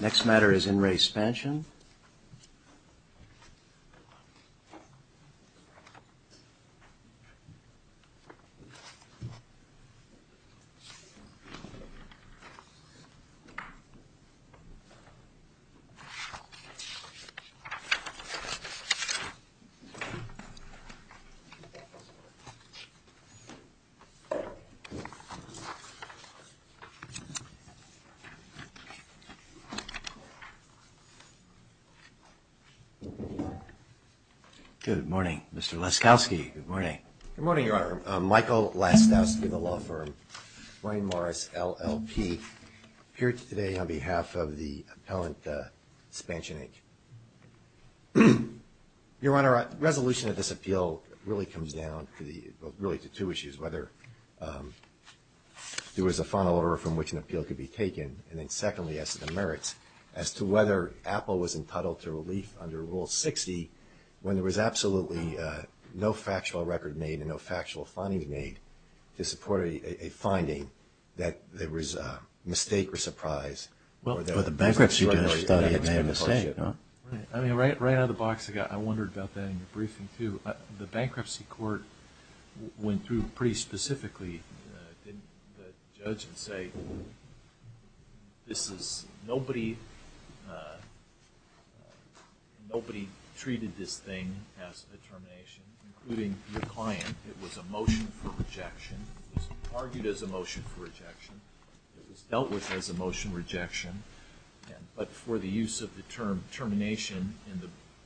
Next matter is in Re Spansion. Good morning, Mr. Laskowski. Good morning, Your Honor. Michael Laskowski, the law firm. Ryan Morris, LLP. Here today on behalf of the appellant, Spansion Inc. Your Honor, resolution of this appeal really comes down to the really to two issues, whether there was a final order of which an appeal could be taken, and then secondly, as to the merits, as to whether Apple was entitled to relief under Rule 60 when there was absolutely no factual record made and no factual findings made to support a finding that there was a mistake or surprise. Well, the bankruptcy judge thought he had made a mistake. I mean, right out of the box, I wondered about that in your briefing, too. The bankruptcy court went through pretty much and say, nobody treated this thing as a termination, including your client. It was a motion for rejection. It was argued as a motion for rejection. It was dealt with as a motion for rejection, but for the use of the term termination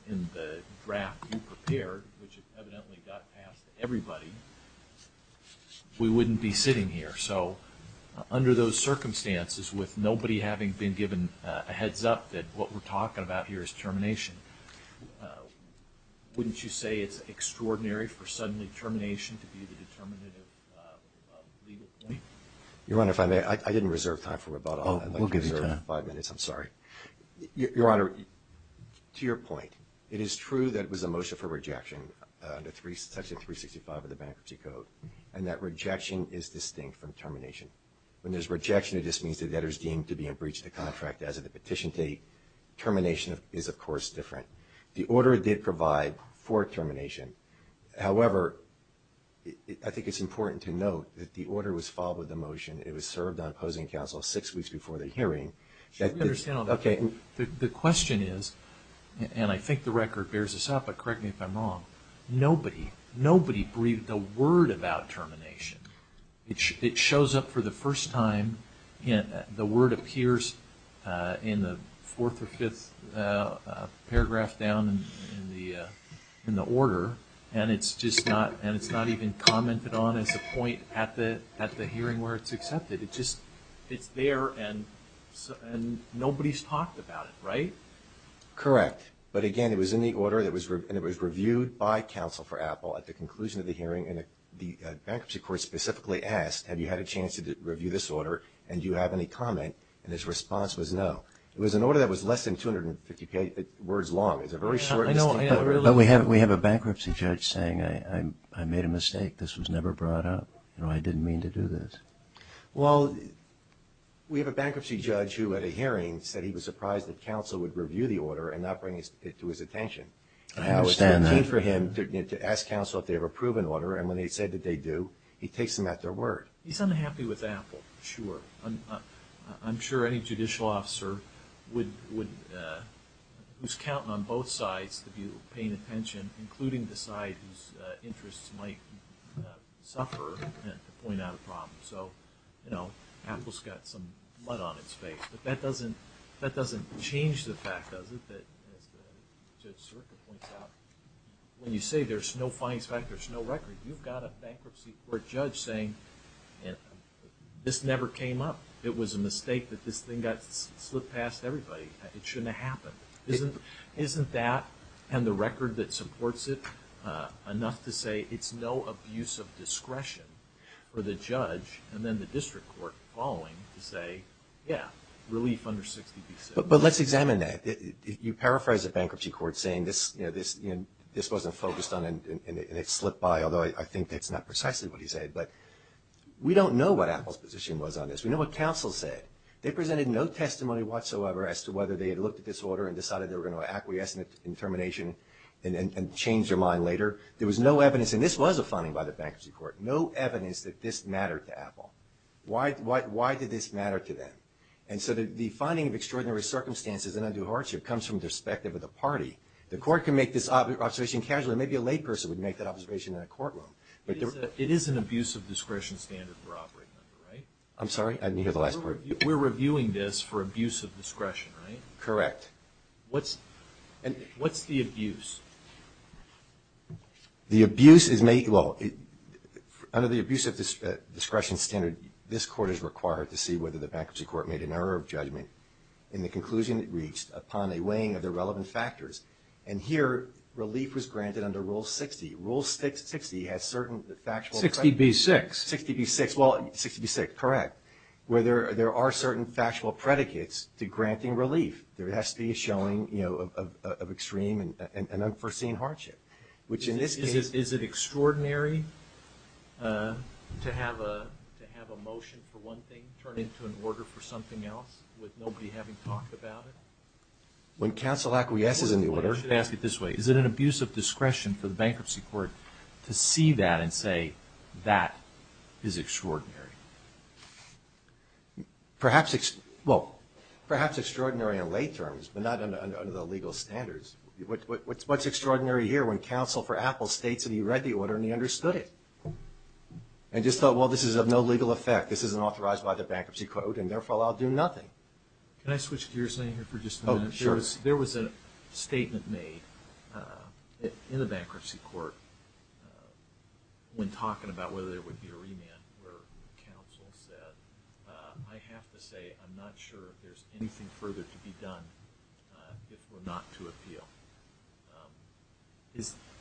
in the draft you prepared, which evidently got passed to everybody, we wouldn't be sitting here. So under those circumstances, with nobody having been given a heads up that what we're talking about here is termination, wouldn't you say it's extraordinary for suddenly termination to be the determinative legal point? Your Honor, if I may, I didn't reserve time for rebuttal. I'd like to reserve five minutes. I'm sorry. Your Honor, to your point, it is true that it was a motion for rejection under Section 365 of the Bankruptcy Code, and that rejection is distinct from termination. When there's rejection, it just means the debtor's deemed to be in breach of the contract as of the petition date. Termination is, of course, different. The order did provide for termination. However, I think it's important to note that the order was filed with a motion. It was served on opposing counsel six weeks before the hearing. The question is, and I think the record bears this up, but correct me if I'm wrong. Nobody breathed a word about termination. It shows up for the first time. The word appears in the fourth or fifth paragraph down in the order, and it's not even commented on as a point at the hearing where it's accepted. It's there, and nobody's talked about it, right? Correct. But again, it was in the order, and it was reviewed by counsel for Apple at the conclusion of the hearing, and the bankruptcy court specifically asked, have you had a chance to review this order, and do you have any comment? And his response was no. It was an order that was less than 250 words long. It's a very short and distinct order. But we have a bankruptcy judge saying, I made a mistake. This was never brought up. I didn't mean to do this. Well, we have a bankruptcy judge who, at a hearing, said he was surprised that counsel would review the order and not bring it to his attention. I understand that. He's unhappy with Apple, sure. I'm sure any judicial officer who's counting on both sides to be paying attention, including the side whose interests might suffer, to point out a problem. So, you know, Apple's got some mud on its face. But that doesn't change the fact, does it, that, as Judge Sirka points out, when you say there's no fines, in fact, there's no record, you've got a bankruptcy court judge saying, this never came up. It was a mistake that this thing got slipped past everybody. It shouldn't have happened. Isn't that and the record that supports it enough to say it's no abuse of discretion for the judge and then the district court following to say, yeah, relief under 60p6. But let's examine that. You paraphrase a bankruptcy court saying this wasn't focused on and it slipped by, although I think that's not precisely what he said, but we don't know what Apple's position was on this. We know what counsel said. They presented no testimony whatsoever as to whether they had looked at this order and decided they were going to acquiesce in termination and change their mind later. There was no evidence, and this was a finding by the bankruptcy court, no evidence that this mattered to Apple. Why did this matter to them? And so the finding of extraordinary circumstances in undue hardship comes from the perspective of the party. The court can make this observation casually. The abuse is made, well, under the abuse of discretion standard, this court is required to see whether the bankruptcy court made an error of judgment in the conclusion it reached upon a weighing of the relevant factors. And here relief was granted under Rule 60. Rule 60 has certain factual. 60B-6. 60B-6, well, 60B-6, correct, where there are certain factual predicates to granting relief. There has to be a showing of extreme and unforeseen hardship, which in this case. Is it extraordinary to have a motion for one thing turn into an order for something else with nobody having talked about it? When counsel acquiesces in the order. Is it an abuse of discretion for the bankruptcy court to see that and say that is extraordinary? Well, perhaps extraordinary in lay terms, but not under the legal standards. What's extraordinary here when counsel for Apple states that he read the order and he understood it and just thought, well, this is of no legal effect. This isn't authorized by the bankruptcy code, and therefore I'll do nothing. Can I switch gears here for just a minute? There was a statement made in the bankruptcy court when talking about whether there would be a remand where counsel said, I have to say I'm not sure if there's anything further to be done if we're not to appeal.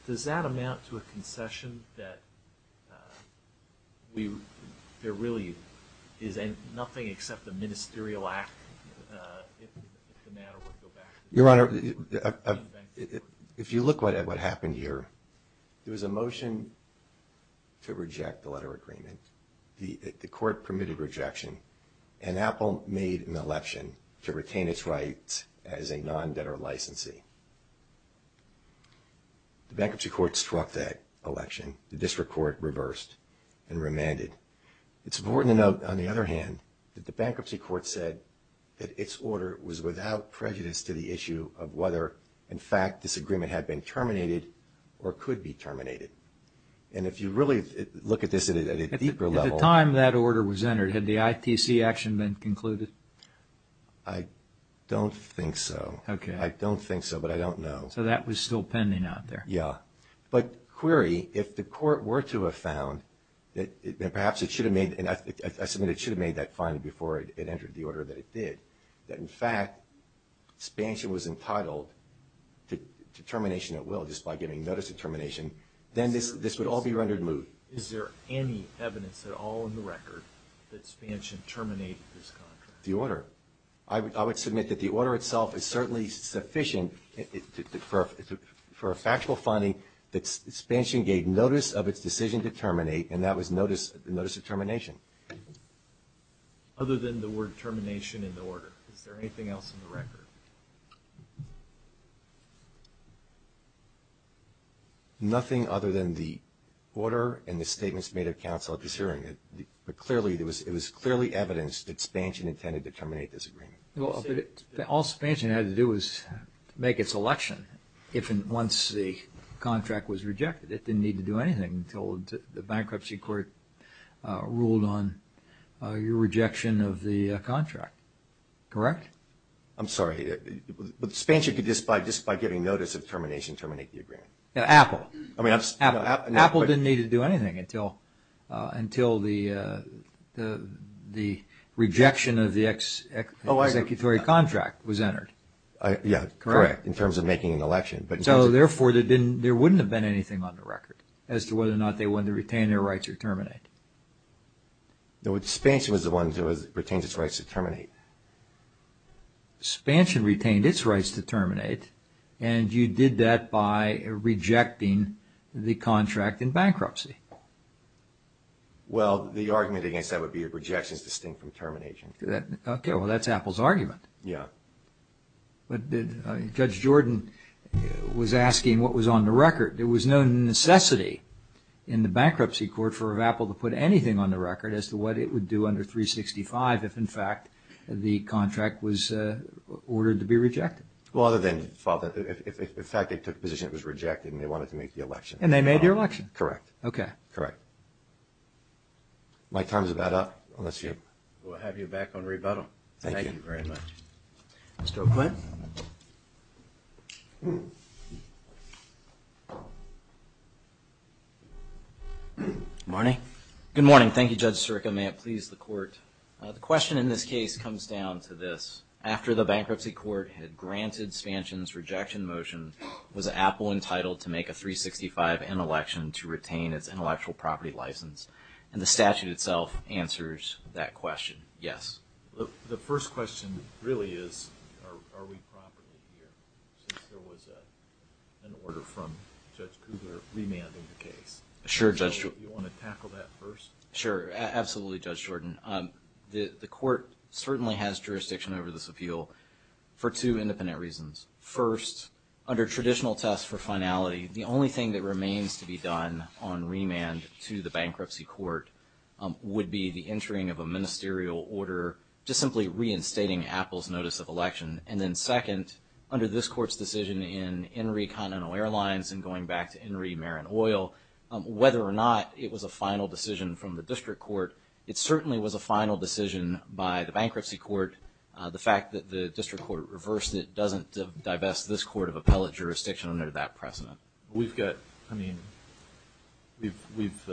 Does that amount to a concession that there really is nothing except a ministerial act if the matter were to go back to the bankruptcy court? If you look at what happened here, there was a motion to reject the letter of agreement. The court permitted rejection, and Apple made an election to retain its rights as a non-debtor licensee. The bankruptcy court struck that election. The district court reversed and remanded. It's important to note, on the other hand, that the bankruptcy court said that its order was without prejudice to the issue of whether, in fact, this agreement had been terminated or could be terminated. And if you really look at this at a deeper level... At the time that order was entered, had the ITC action been concluded? I don't think so. I don't think so, but I don't know. So that was still pending out there? Yeah. But query, if the court were to have found that perhaps it should have made that finding before it entered the order that it did, that in fact, Spansion was entitled to termination at will just by giving notice of termination, then this would all be rendered moot. Is there any evidence at all in the record that Spansion terminated this contract? The order. I would submit that the order itself is certainly sufficient for a factual finding that Spansion gave notice of its decision to terminate, and that was notice of termination. Other than the word termination in the order. Is there anything else in the record? Nothing other than the order and the statements made of counsel at this hearing. But it was clearly evidenced that Spansion intended to terminate this agreement. All Spansion had to do was make its election once the contract was rejected. It didn't need to do anything until the bankruptcy court ruled on your rejection of the contract. Correct? I'm sorry. But Spansion could just by giving notice of termination terminate the agreement. Apple. Apple didn't need to do anything until the rejection of the executory contract was entered. Yeah, correct, in terms of making an election. So therefore there wouldn't have been anything on the record as to whether or not they wanted to retain their rights or terminate. Spansion was the one that retained its rights to terminate. Spansion retained its rights to terminate, and you did that by rejecting the contract in bankruptcy. Well, the argument against that would be a rejection is distinct from termination. Okay, well that's Apple's argument. But Judge Jordan was asking what was on the record. There was no necessity in the bankruptcy court for Apple to put anything on the record as to what it would do under 365 if in fact the contract was ordered to be rejected. Well, other than the fact that in fact they took a position it was rejected and they wanted to make the election. And they made your election? Correct. My time is about up. We'll have you back on rebuttal. Mr. O'Quinn. Good morning. Thank you, Judge Sirica. May it please the court. The question in this case comes down to this. After the bankruptcy court had granted Spansion's rejection motion, was Apple entitled to make a 365-N election to retain its intellectual property license? And the statute itself answers that question. Yes. The first question really is, are we properly here? Since there was an order from Judge Cougar remanding the case. Do you want to tackle that first? Sure, absolutely, Judge Jordan. The court certainly has jurisdiction over this appeal for two independent reasons. First, under traditional tests for finality, the only thing that remains to be done on remand to the bankruptcy court would be the entering of a ministerial order, just simply reinstating Apple's notice of election. And then second, under this court's decision in Henry Continental Airlines and going back to Henry Marin Oil, whether or not it was a final decision from the district court, it certainly was a final decision by the bankruptcy court. The fact that the district court reversed it doesn't divest this court of appellate jurisdiction under that precedent. We've got, I mean, we've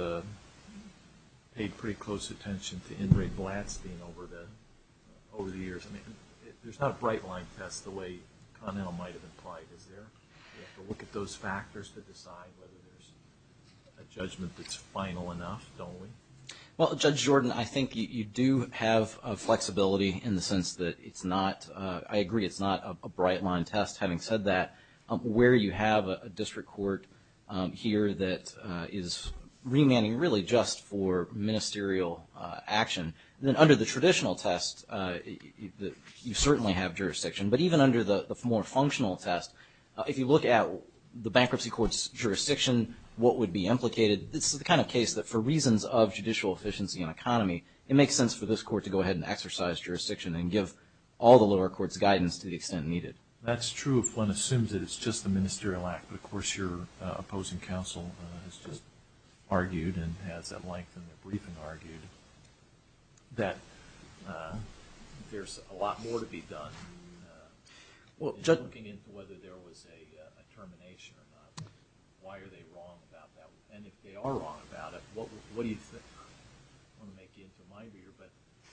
paid pretty close attention to Ingrid Blatstein over the years. I mean, there's not a bright line test the way Continental might have implied, is there? We have to look at those factors to decide whether there's a judgment that's final enough, don't we? Well, Judge Jordan, I think you do have flexibility in the sense that it's not, I agree it's not a bright line test, having said that, where you have a district court here that is remanding really just for ministerial action. Then under the traditional test, you certainly have jurisdiction. But even under the more functional test, if you look at the bankruptcy court's jurisdiction, what would be implicated, this is the kind of case that for reasons of judicial efficiency and economy, it makes sense for this court to go ahead and exercise jurisdiction and give all the lower courts guidance to the extent needed. That's true if one assumes that it's just a ministerial act. But, of course, your opposing counsel has just argued and has at length in their briefing argued that there's a lot more to be done. Judging into whether there was a termination or not, why are they wrong about that? And if they are wrong about it, what do you think? I don't want to make you into a mind reader, but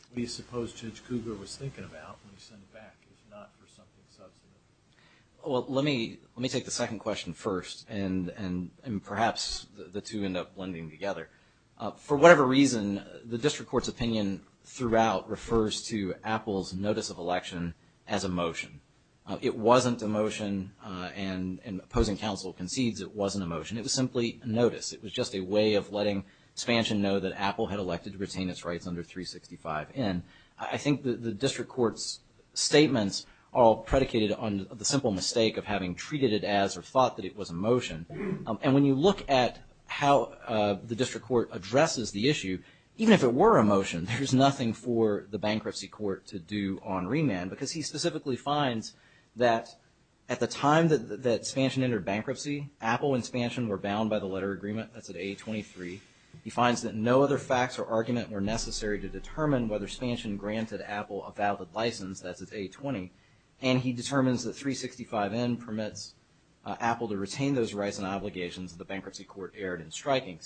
what do you suppose Judge Cougar was thinking about when he sent it back? It's not for something substantive. Well, let me take the second question first, and perhaps the two end up blending together. For whatever reason, the district court's opinion throughout refers to Apple's notice of election as a motion. It wasn't a motion, and opposing counsel concedes it wasn't a motion. It was simply a notice. It was just a way of letting Spansion know that Apple had elected to retain its rights under 365N. I think the district court's statements are predicated on the simple mistake of having treated it as or thought that it was a motion. And when you look at how the district court addresses the issue, even if it were a motion, there's nothing for the bankruptcy court to do on remand, because he specifically finds that at the time that Spansion entered bankruptcy, Apple and Spansion were bound by the letter agreement, that's at A23. He finds that no other facts or argument were necessary to determine whether Spansion granted Apple a valid license, that's at A20. And he determines that 365N permits Apple to retain those rights and obligations that the bankruptcy court erred in striking.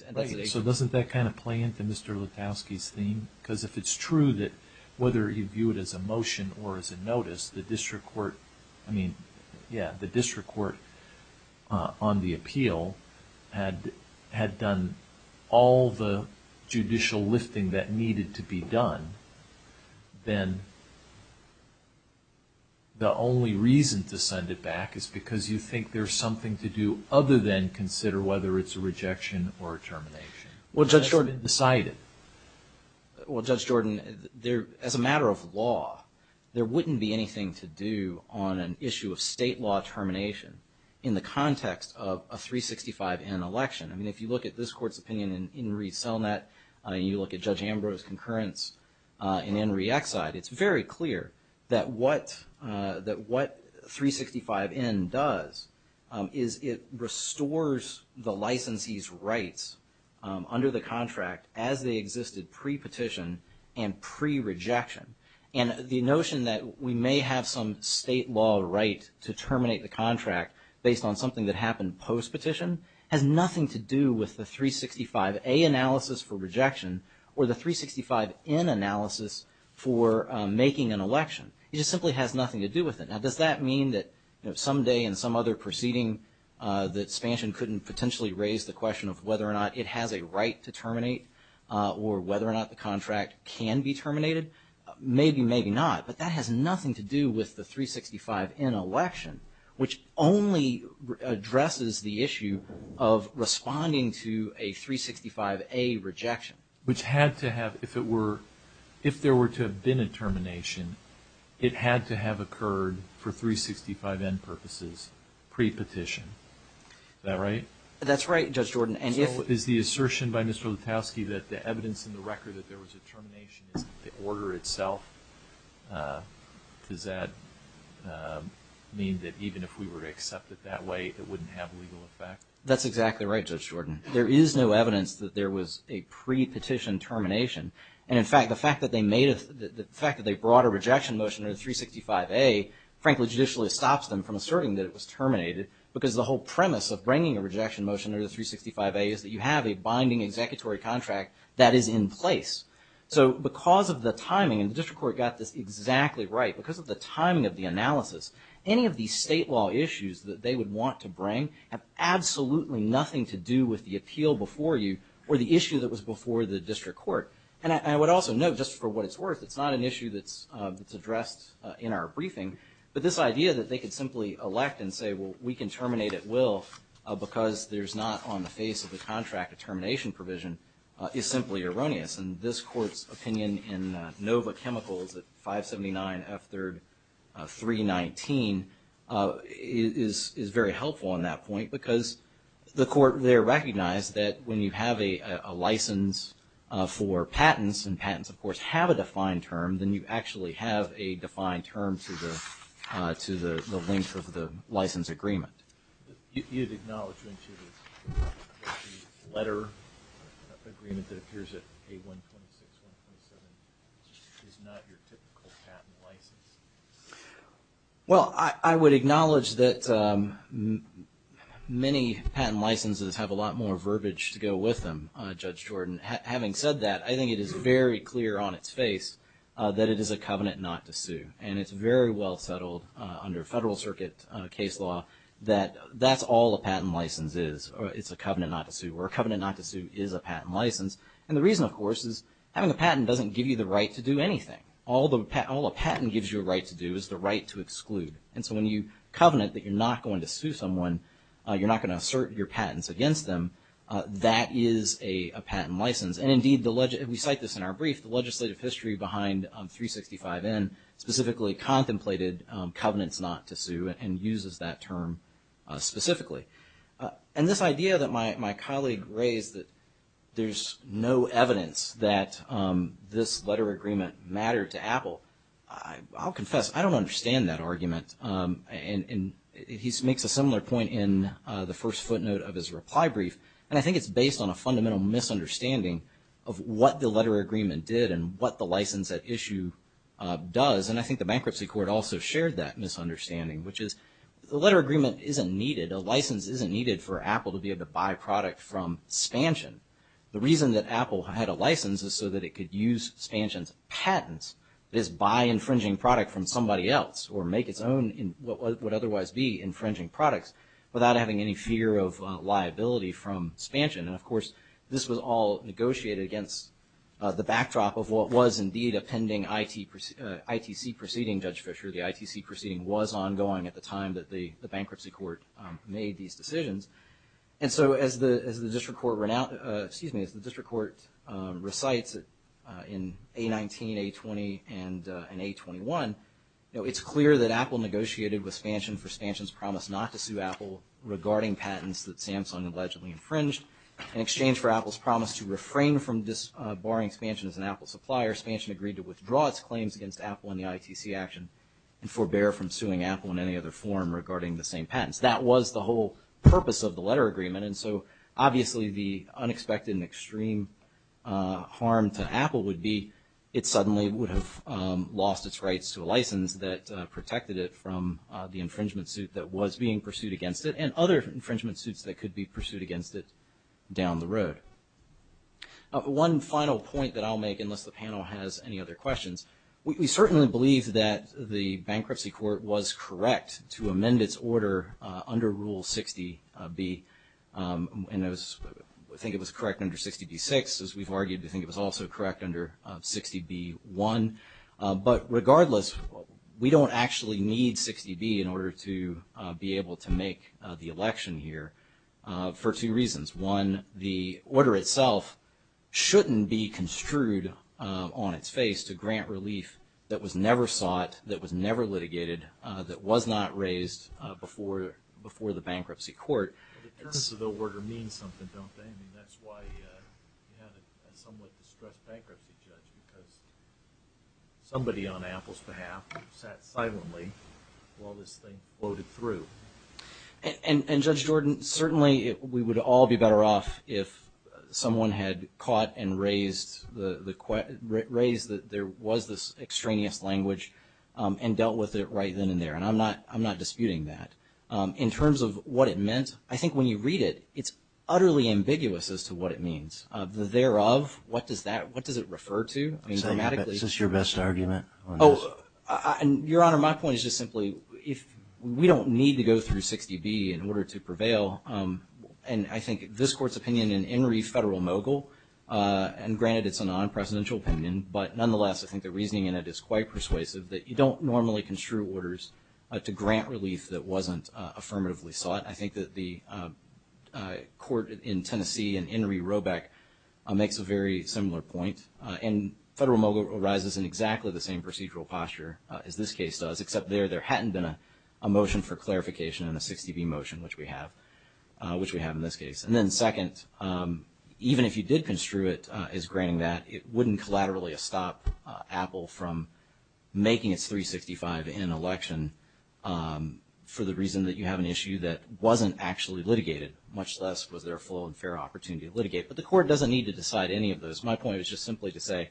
So doesn't that kind of play into Mr. Lutowsky's theme? Because if it's true that whether you view it as a motion or as a notice, the district court on the appeal had done all the judicial lifting that needed to be done, then the only reason to send it back is because you think there's something to do other than consider whether it's a rejection or a termination. Well, Judge Jordan, as a matter of law, there wouldn't be anything to do on an issue of state law termination in the context of a 365N election. I mean, if you look at this court's opinion in Enri Selnat, and you look at Judge Ambrose's concurrence in Enri Exide, it's very clear that what 365N does is it restores the licensee's rights under the contract as they existed pre-petition and pre-rejection. And the notion that we may have some state law right to terminate the contract based on something that happened post-petition has nothing to do with the 365A analysis for rejection or the 365N analysis for making an election. It just simply has nothing to do with it. Now, does that mean that someday in some other proceeding that expansion couldn't potentially raise the question of whether or not it has a right to terminate or whether or not the contract can be terminated? Maybe, maybe not, but that has nothing to do with the 365N election, which only addresses the issue of responding to a 365A rejection. Which had to have, if it were, if there were to have been a termination, it had to have occurred for 365N purposes pre-petition. Is that right? That's right, Judge Jordan. Is the assertion by Mr. Lutowsky that the evidence in the record that there was a termination is the order itself? Does that mean that even if we were to accept it that way, it wouldn't have legal effect? That's exactly right, Judge Jordan. There is no evidence that there was a pre-petition termination. And in fact, the fact that they brought a rejection motion under the 365A, frankly, judicially stops them from asserting that it was terminated, because the whole premise of bringing a rejection motion under the 365A is that you have a binding executory contract that is in place. So because of the timing, and the district court got this exactly right, because of the timing of the analysis, any of these state law issues that they would want to bring have absolutely nothing to do with the appeal before you or the issue that was before the district court. And I would also note, just for what it's worth, it's not an issue that's addressed in our briefing, but this idea that they could simply elect and say, well, we can terminate at will, because there's not on the face of the contract a termination provision, is simply erroneous. And this Court's opinion in Nova Chemicals at 579 F3 319 is very helpful in that point, because the Court there recognized that when you have a license for patents, and patents, of course, have a defined term, then you actually have a defined term to the length of the license agreement. You'd acknowledge, wouldn't you, that the letter agreement that appears at A126-127 is not your typical patent license? Well, I would acknowledge that many patent licenses have a lot more verbiage to go with them, Judge Jordan. Having said that, I think it is very clear on its face that it is a covenant not to sue. And it's very well settled under Federal Circuit case law that that's all a patent license is. It's a covenant not to sue, or a covenant not to sue is a patent license. And the reason, of course, is having a patent doesn't give you the right to do anything. All a patent gives you a right to do is the right to exclude. And so when you covenant that you're not going to sue someone, you're not going to assert your patents against them, that is a patent license. And indeed, we cite this in our brief, the legislative history behind 365N specifically contemplated covenants not to sue and uses that term specifically. And this idea that my colleague raised that there's no evidence that this letter agreement mattered to Apple, I'll confess, I don't understand that argument. And he makes a similar point in the first footnote of his reply brief. And I think it's based on a fundamental misunderstanding of what the letter agreement did and what the license at issue does. And I think the bankruptcy court also shared that misunderstanding, which is the letter agreement isn't needed. A license isn't needed for Apple to be able to buy product from Spansion. The reason that Apple had a license is so that it could use Spansion's patents, is buy infringing product from somebody else or make its own in what would otherwise be infringing products without having any fear of liability from Spansion. And of course, this was all negotiated against the backdrop of what was indeed a pending ITC proceeding, Judge Fischer. The ITC proceeding was ongoing at the time that the bankruptcy court made these decisions. And so as the district court recites in A19, A20, and A21, it's clear that Apple negotiated with Spansion for Spansion's promise not to sue Apple regarding patents that Samsung allegedly infringed in exchange for Apple's promise to refrain from barring Spansion as an Apple supplier. Spansion agreed to withdraw its claims against Apple in the ITC action and forbear from suing Apple in any other form regarding the same patents. That was the whole purpose of the letter agreement. And so obviously the unexpected and extreme harm to Apple would be it suddenly would have lost its rights to a license that Apple had pursued against it down the road. One final point that I'll make, unless the panel has any other questions. We certainly believe that the bankruptcy court was correct to amend its order under Rule 60B. And I think it was correct under 60B-6, as we've argued. I think it was also correct under 60B-1. But regardless, we don't actually need 60B in order to be able to make the election here for two reasons. One, the order itself shouldn't be construed on its face to grant relief that was never sought, that was never litigated, that was not raised before the bankruptcy court. The terms of the order mean something, don't they? I mean, that's why you had a somewhat distressed bankruptcy judge, because somebody on Apple's behalf sat silently while this thing floated through. And Judge Jordan, certainly we would all be better off if someone had caught and raised that there was this extraneous language and dealt with it right then and there. And I'm not disputing that. I'm just saying that this is your best argument. Oh, Your Honor, my point is just simply, we don't need to go through 60B in order to prevail. And I think this Court's opinion in Enri Federal Mogul, and granted it's a non-presidential opinion, but nonetheless I think the reasoning in it is quite persuasive, that you don't normally construe orders to grant relief that wasn't affirmatively sought. I think that the Court in Tennessee and Enri Robeck makes a very similar point. And Federal Mogul arises in exactly the same procedural posture as this case does, except there there hadn't been a motion for clarification in the 60B motion, which we have in this case. And then second, even if you did construe it as granting that, it wouldn't collaterally stop Apple from making its 365 in an election for the reason that you have an issue that wasn't actually litigated, much less was there a full and fair opportunity to litigate. But the Court doesn't need to decide any of those. My point is just simply to say,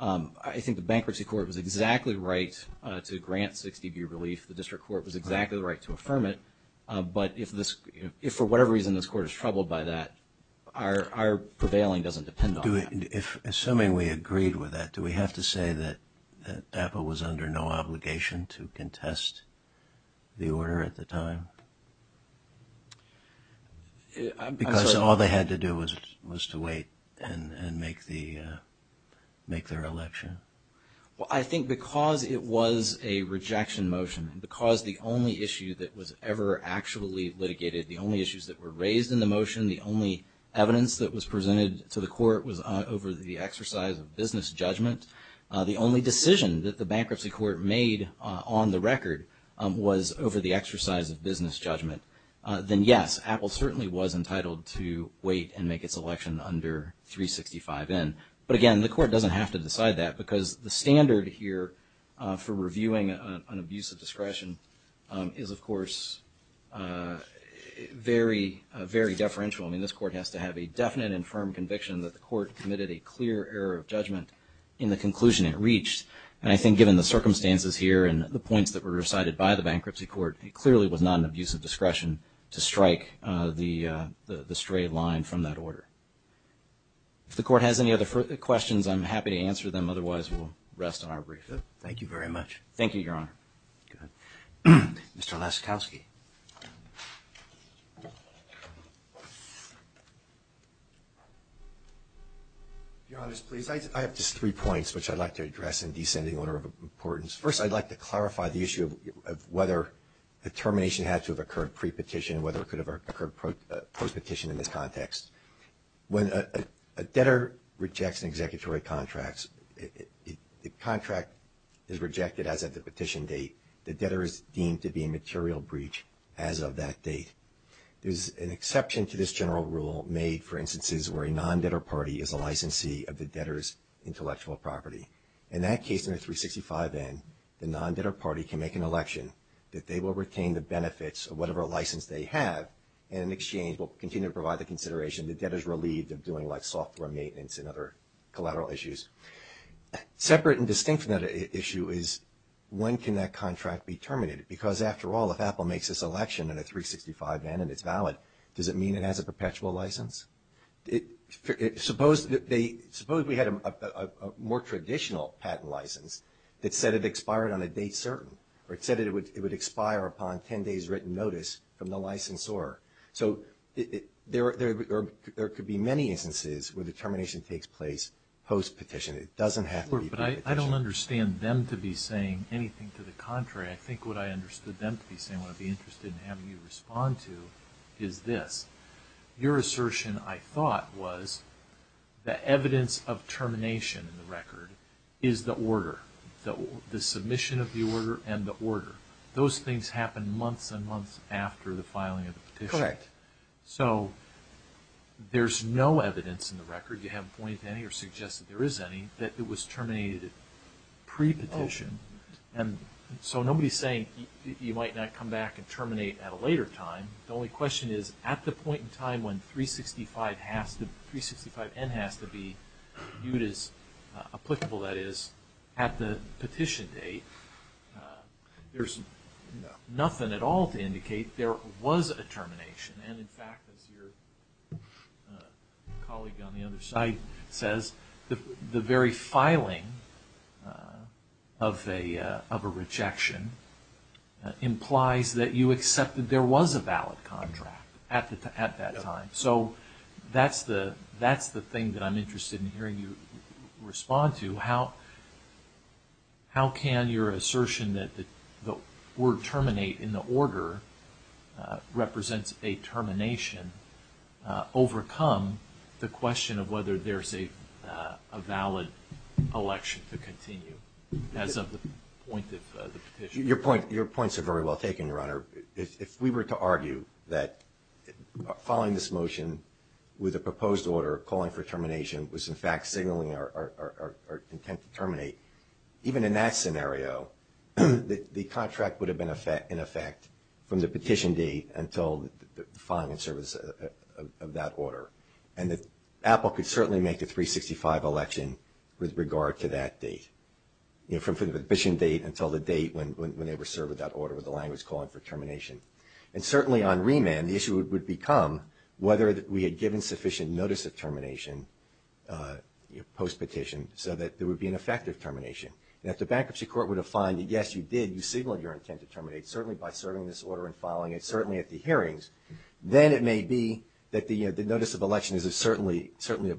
I think the Bankruptcy Court was exactly right to grant 60B relief. The District Court was exactly right to affirm it. But if for whatever reason this Court is troubled by that, our prevailing doesn't depend on that. Assuming we agreed with that, do we have to say that Apple was under no obligation to contest the order at the time? Because all they had to do was to wait and make their election? Well, I think because it was a rejection motion, because the only issue that was ever actually litigated, the only issues that were raised in the motion, the only evidence that was presented to the Court was over the exercise of business judgment, the only decision that the Bankruptcy Court made on the record was over the exercise of business judgment, then yes, Apple certainly was entitled to wait and make its election under 365 in. But again, the Court doesn't have to decide that I mean, this Court has to have a definite and firm conviction that the Court committed a clear error of judgment in the conclusion it reached. And I think given the circumstances here and the points that were recited by the Bankruptcy Court, it clearly was not an abuse of discretion to strike the stray line from that order. If the Court has any other questions, I'm happy to answer them. Otherwise, we'll rest on our brief. Thank you very much. Thank you, Your Honor. Mr. Laskowski. Your Honor, I have just three points which I'd like to address in descending order of importance. First, I'd like to clarify the issue of whether the termination had to have occurred pre-petition and whether it could have occurred post-petition in this context. When a debtor rejects an executory contract, the contract is rejected as of the petition date. The debtor is deemed to be a material breach as of that date. There's an exception to this general rule made, for instances, where a non-debtor party is a licensee of the debtor's intellectual property. In that case, under 365N, the non-debtor party can make an election that they will retain the benefits of whatever license they have and an exchange will continue to provide the consideration the debtor's relieved of doing, like, software maintenance and other collateral issues. Separate and distinct from that issue is when can that contract be terminated? Because, after all, if Apple makes this election in a 365N and it's valid, does it mean it has a perpetual license? Suppose we had a more traditional patent license that said it expired on a date certain, or it said it would expire upon 10 days' written notice from the licensor. So there could be many instances where the termination takes place post-petition. It doesn't have to be the petition. But I don't understand them to be saying anything to the contrary. I think what I understood them to be saying, what I'd be interested in having you respond to, is this. Your assertion, I thought, was the evidence of termination in the record is the order. The submission of the order and the order. Those things happen months and months after the filing of the petition. Correct. So there's no evidence in the record, you haven't pointed to any or suggested there is any, that it was terminated pre-petition. So nobody's saying you might not come back and terminate at a later time. The only question is, at the point in time when 365N has to be viewed as applicable, that is, at the petition date, there's nothing at all to indicate there was a termination. And, in fact, as your colleague on the other side says, the very filing of a rejection implies that you accept that there was a valid contract at that time. So that's the thing that I'm interested in hearing you respond to. How can your assertion that the word terminate in the order represents a termination overcome the question of whether there's a valid election to continue as of the point of the petition? Your points are very well taken, Your Honor. If we were to argue that following this motion with a proposed order calling for termination was, in fact, signaling our intent to terminate, even in that scenario, the contract would have been in effect from the petition date until the filing and service of that order. And that Apple could certainly make a 365 election with regard to that date, from the petition date until the date when they were served without order with the language calling for termination. And certainly on remand, the issue would become whether we had given sufficient notice of termination post-petition so that there would be an effective termination. And if the bankruptcy court were to find that, yes, you did, you signaled your intent to terminate, certainly by serving this order and filing it, certainly at the hearings, then it may be that the notice of election is certainly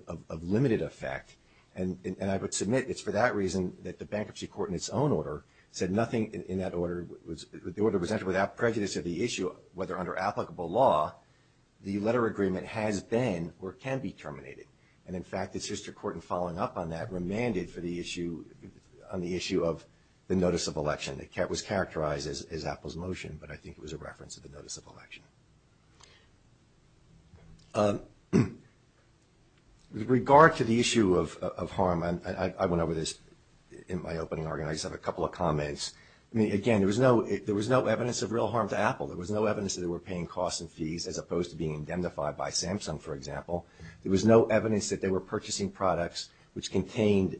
of limited effect. And I would submit it's for that reason that the bankruptcy court in its own order said nothing in that order. The order was entered without prejudice of the issue whether under applicable law the letter agreement has been or can be terminated. And, in fact, the sister court in following up on that remanded on the issue of the notice of election. It was characterized as Apple's motion, but I think it was a reference to the notice of election. With regard to the issue of harm, I went over this in my opening argument. I just have a couple of comments. I mean, again, there was no evidence of real harm to Apple. There was no evidence that they were paying costs and fees as opposed to being indemnified by Samsung, for example. There was no evidence that they were purchasing products which contained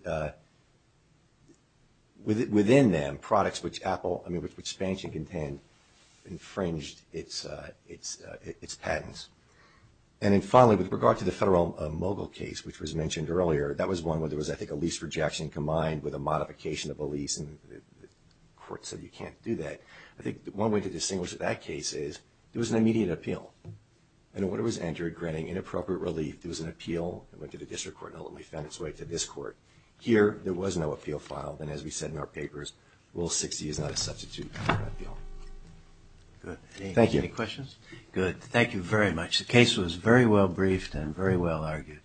within them products which Apple, I mean, which Samsung contained, infringed its patents. And then, finally, with regard to the federal mogul case, which was mentioned earlier, that was one where there was, I think, a lease rejection combined with a modification of a lease, and the court said you can't do that. I think one way to distinguish that case is there was an immediate appeal. And when it was entered granting inappropriate relief, there was an appeal. It went to the district court and ultimately found its way to this court. Here, there was no appeal filed. And as we said in our papers, Rule 60 is not a substitute for an appeal. Good. Thank you. Any questions? Good. Thank you very much. The case was very well briefed and very well argued.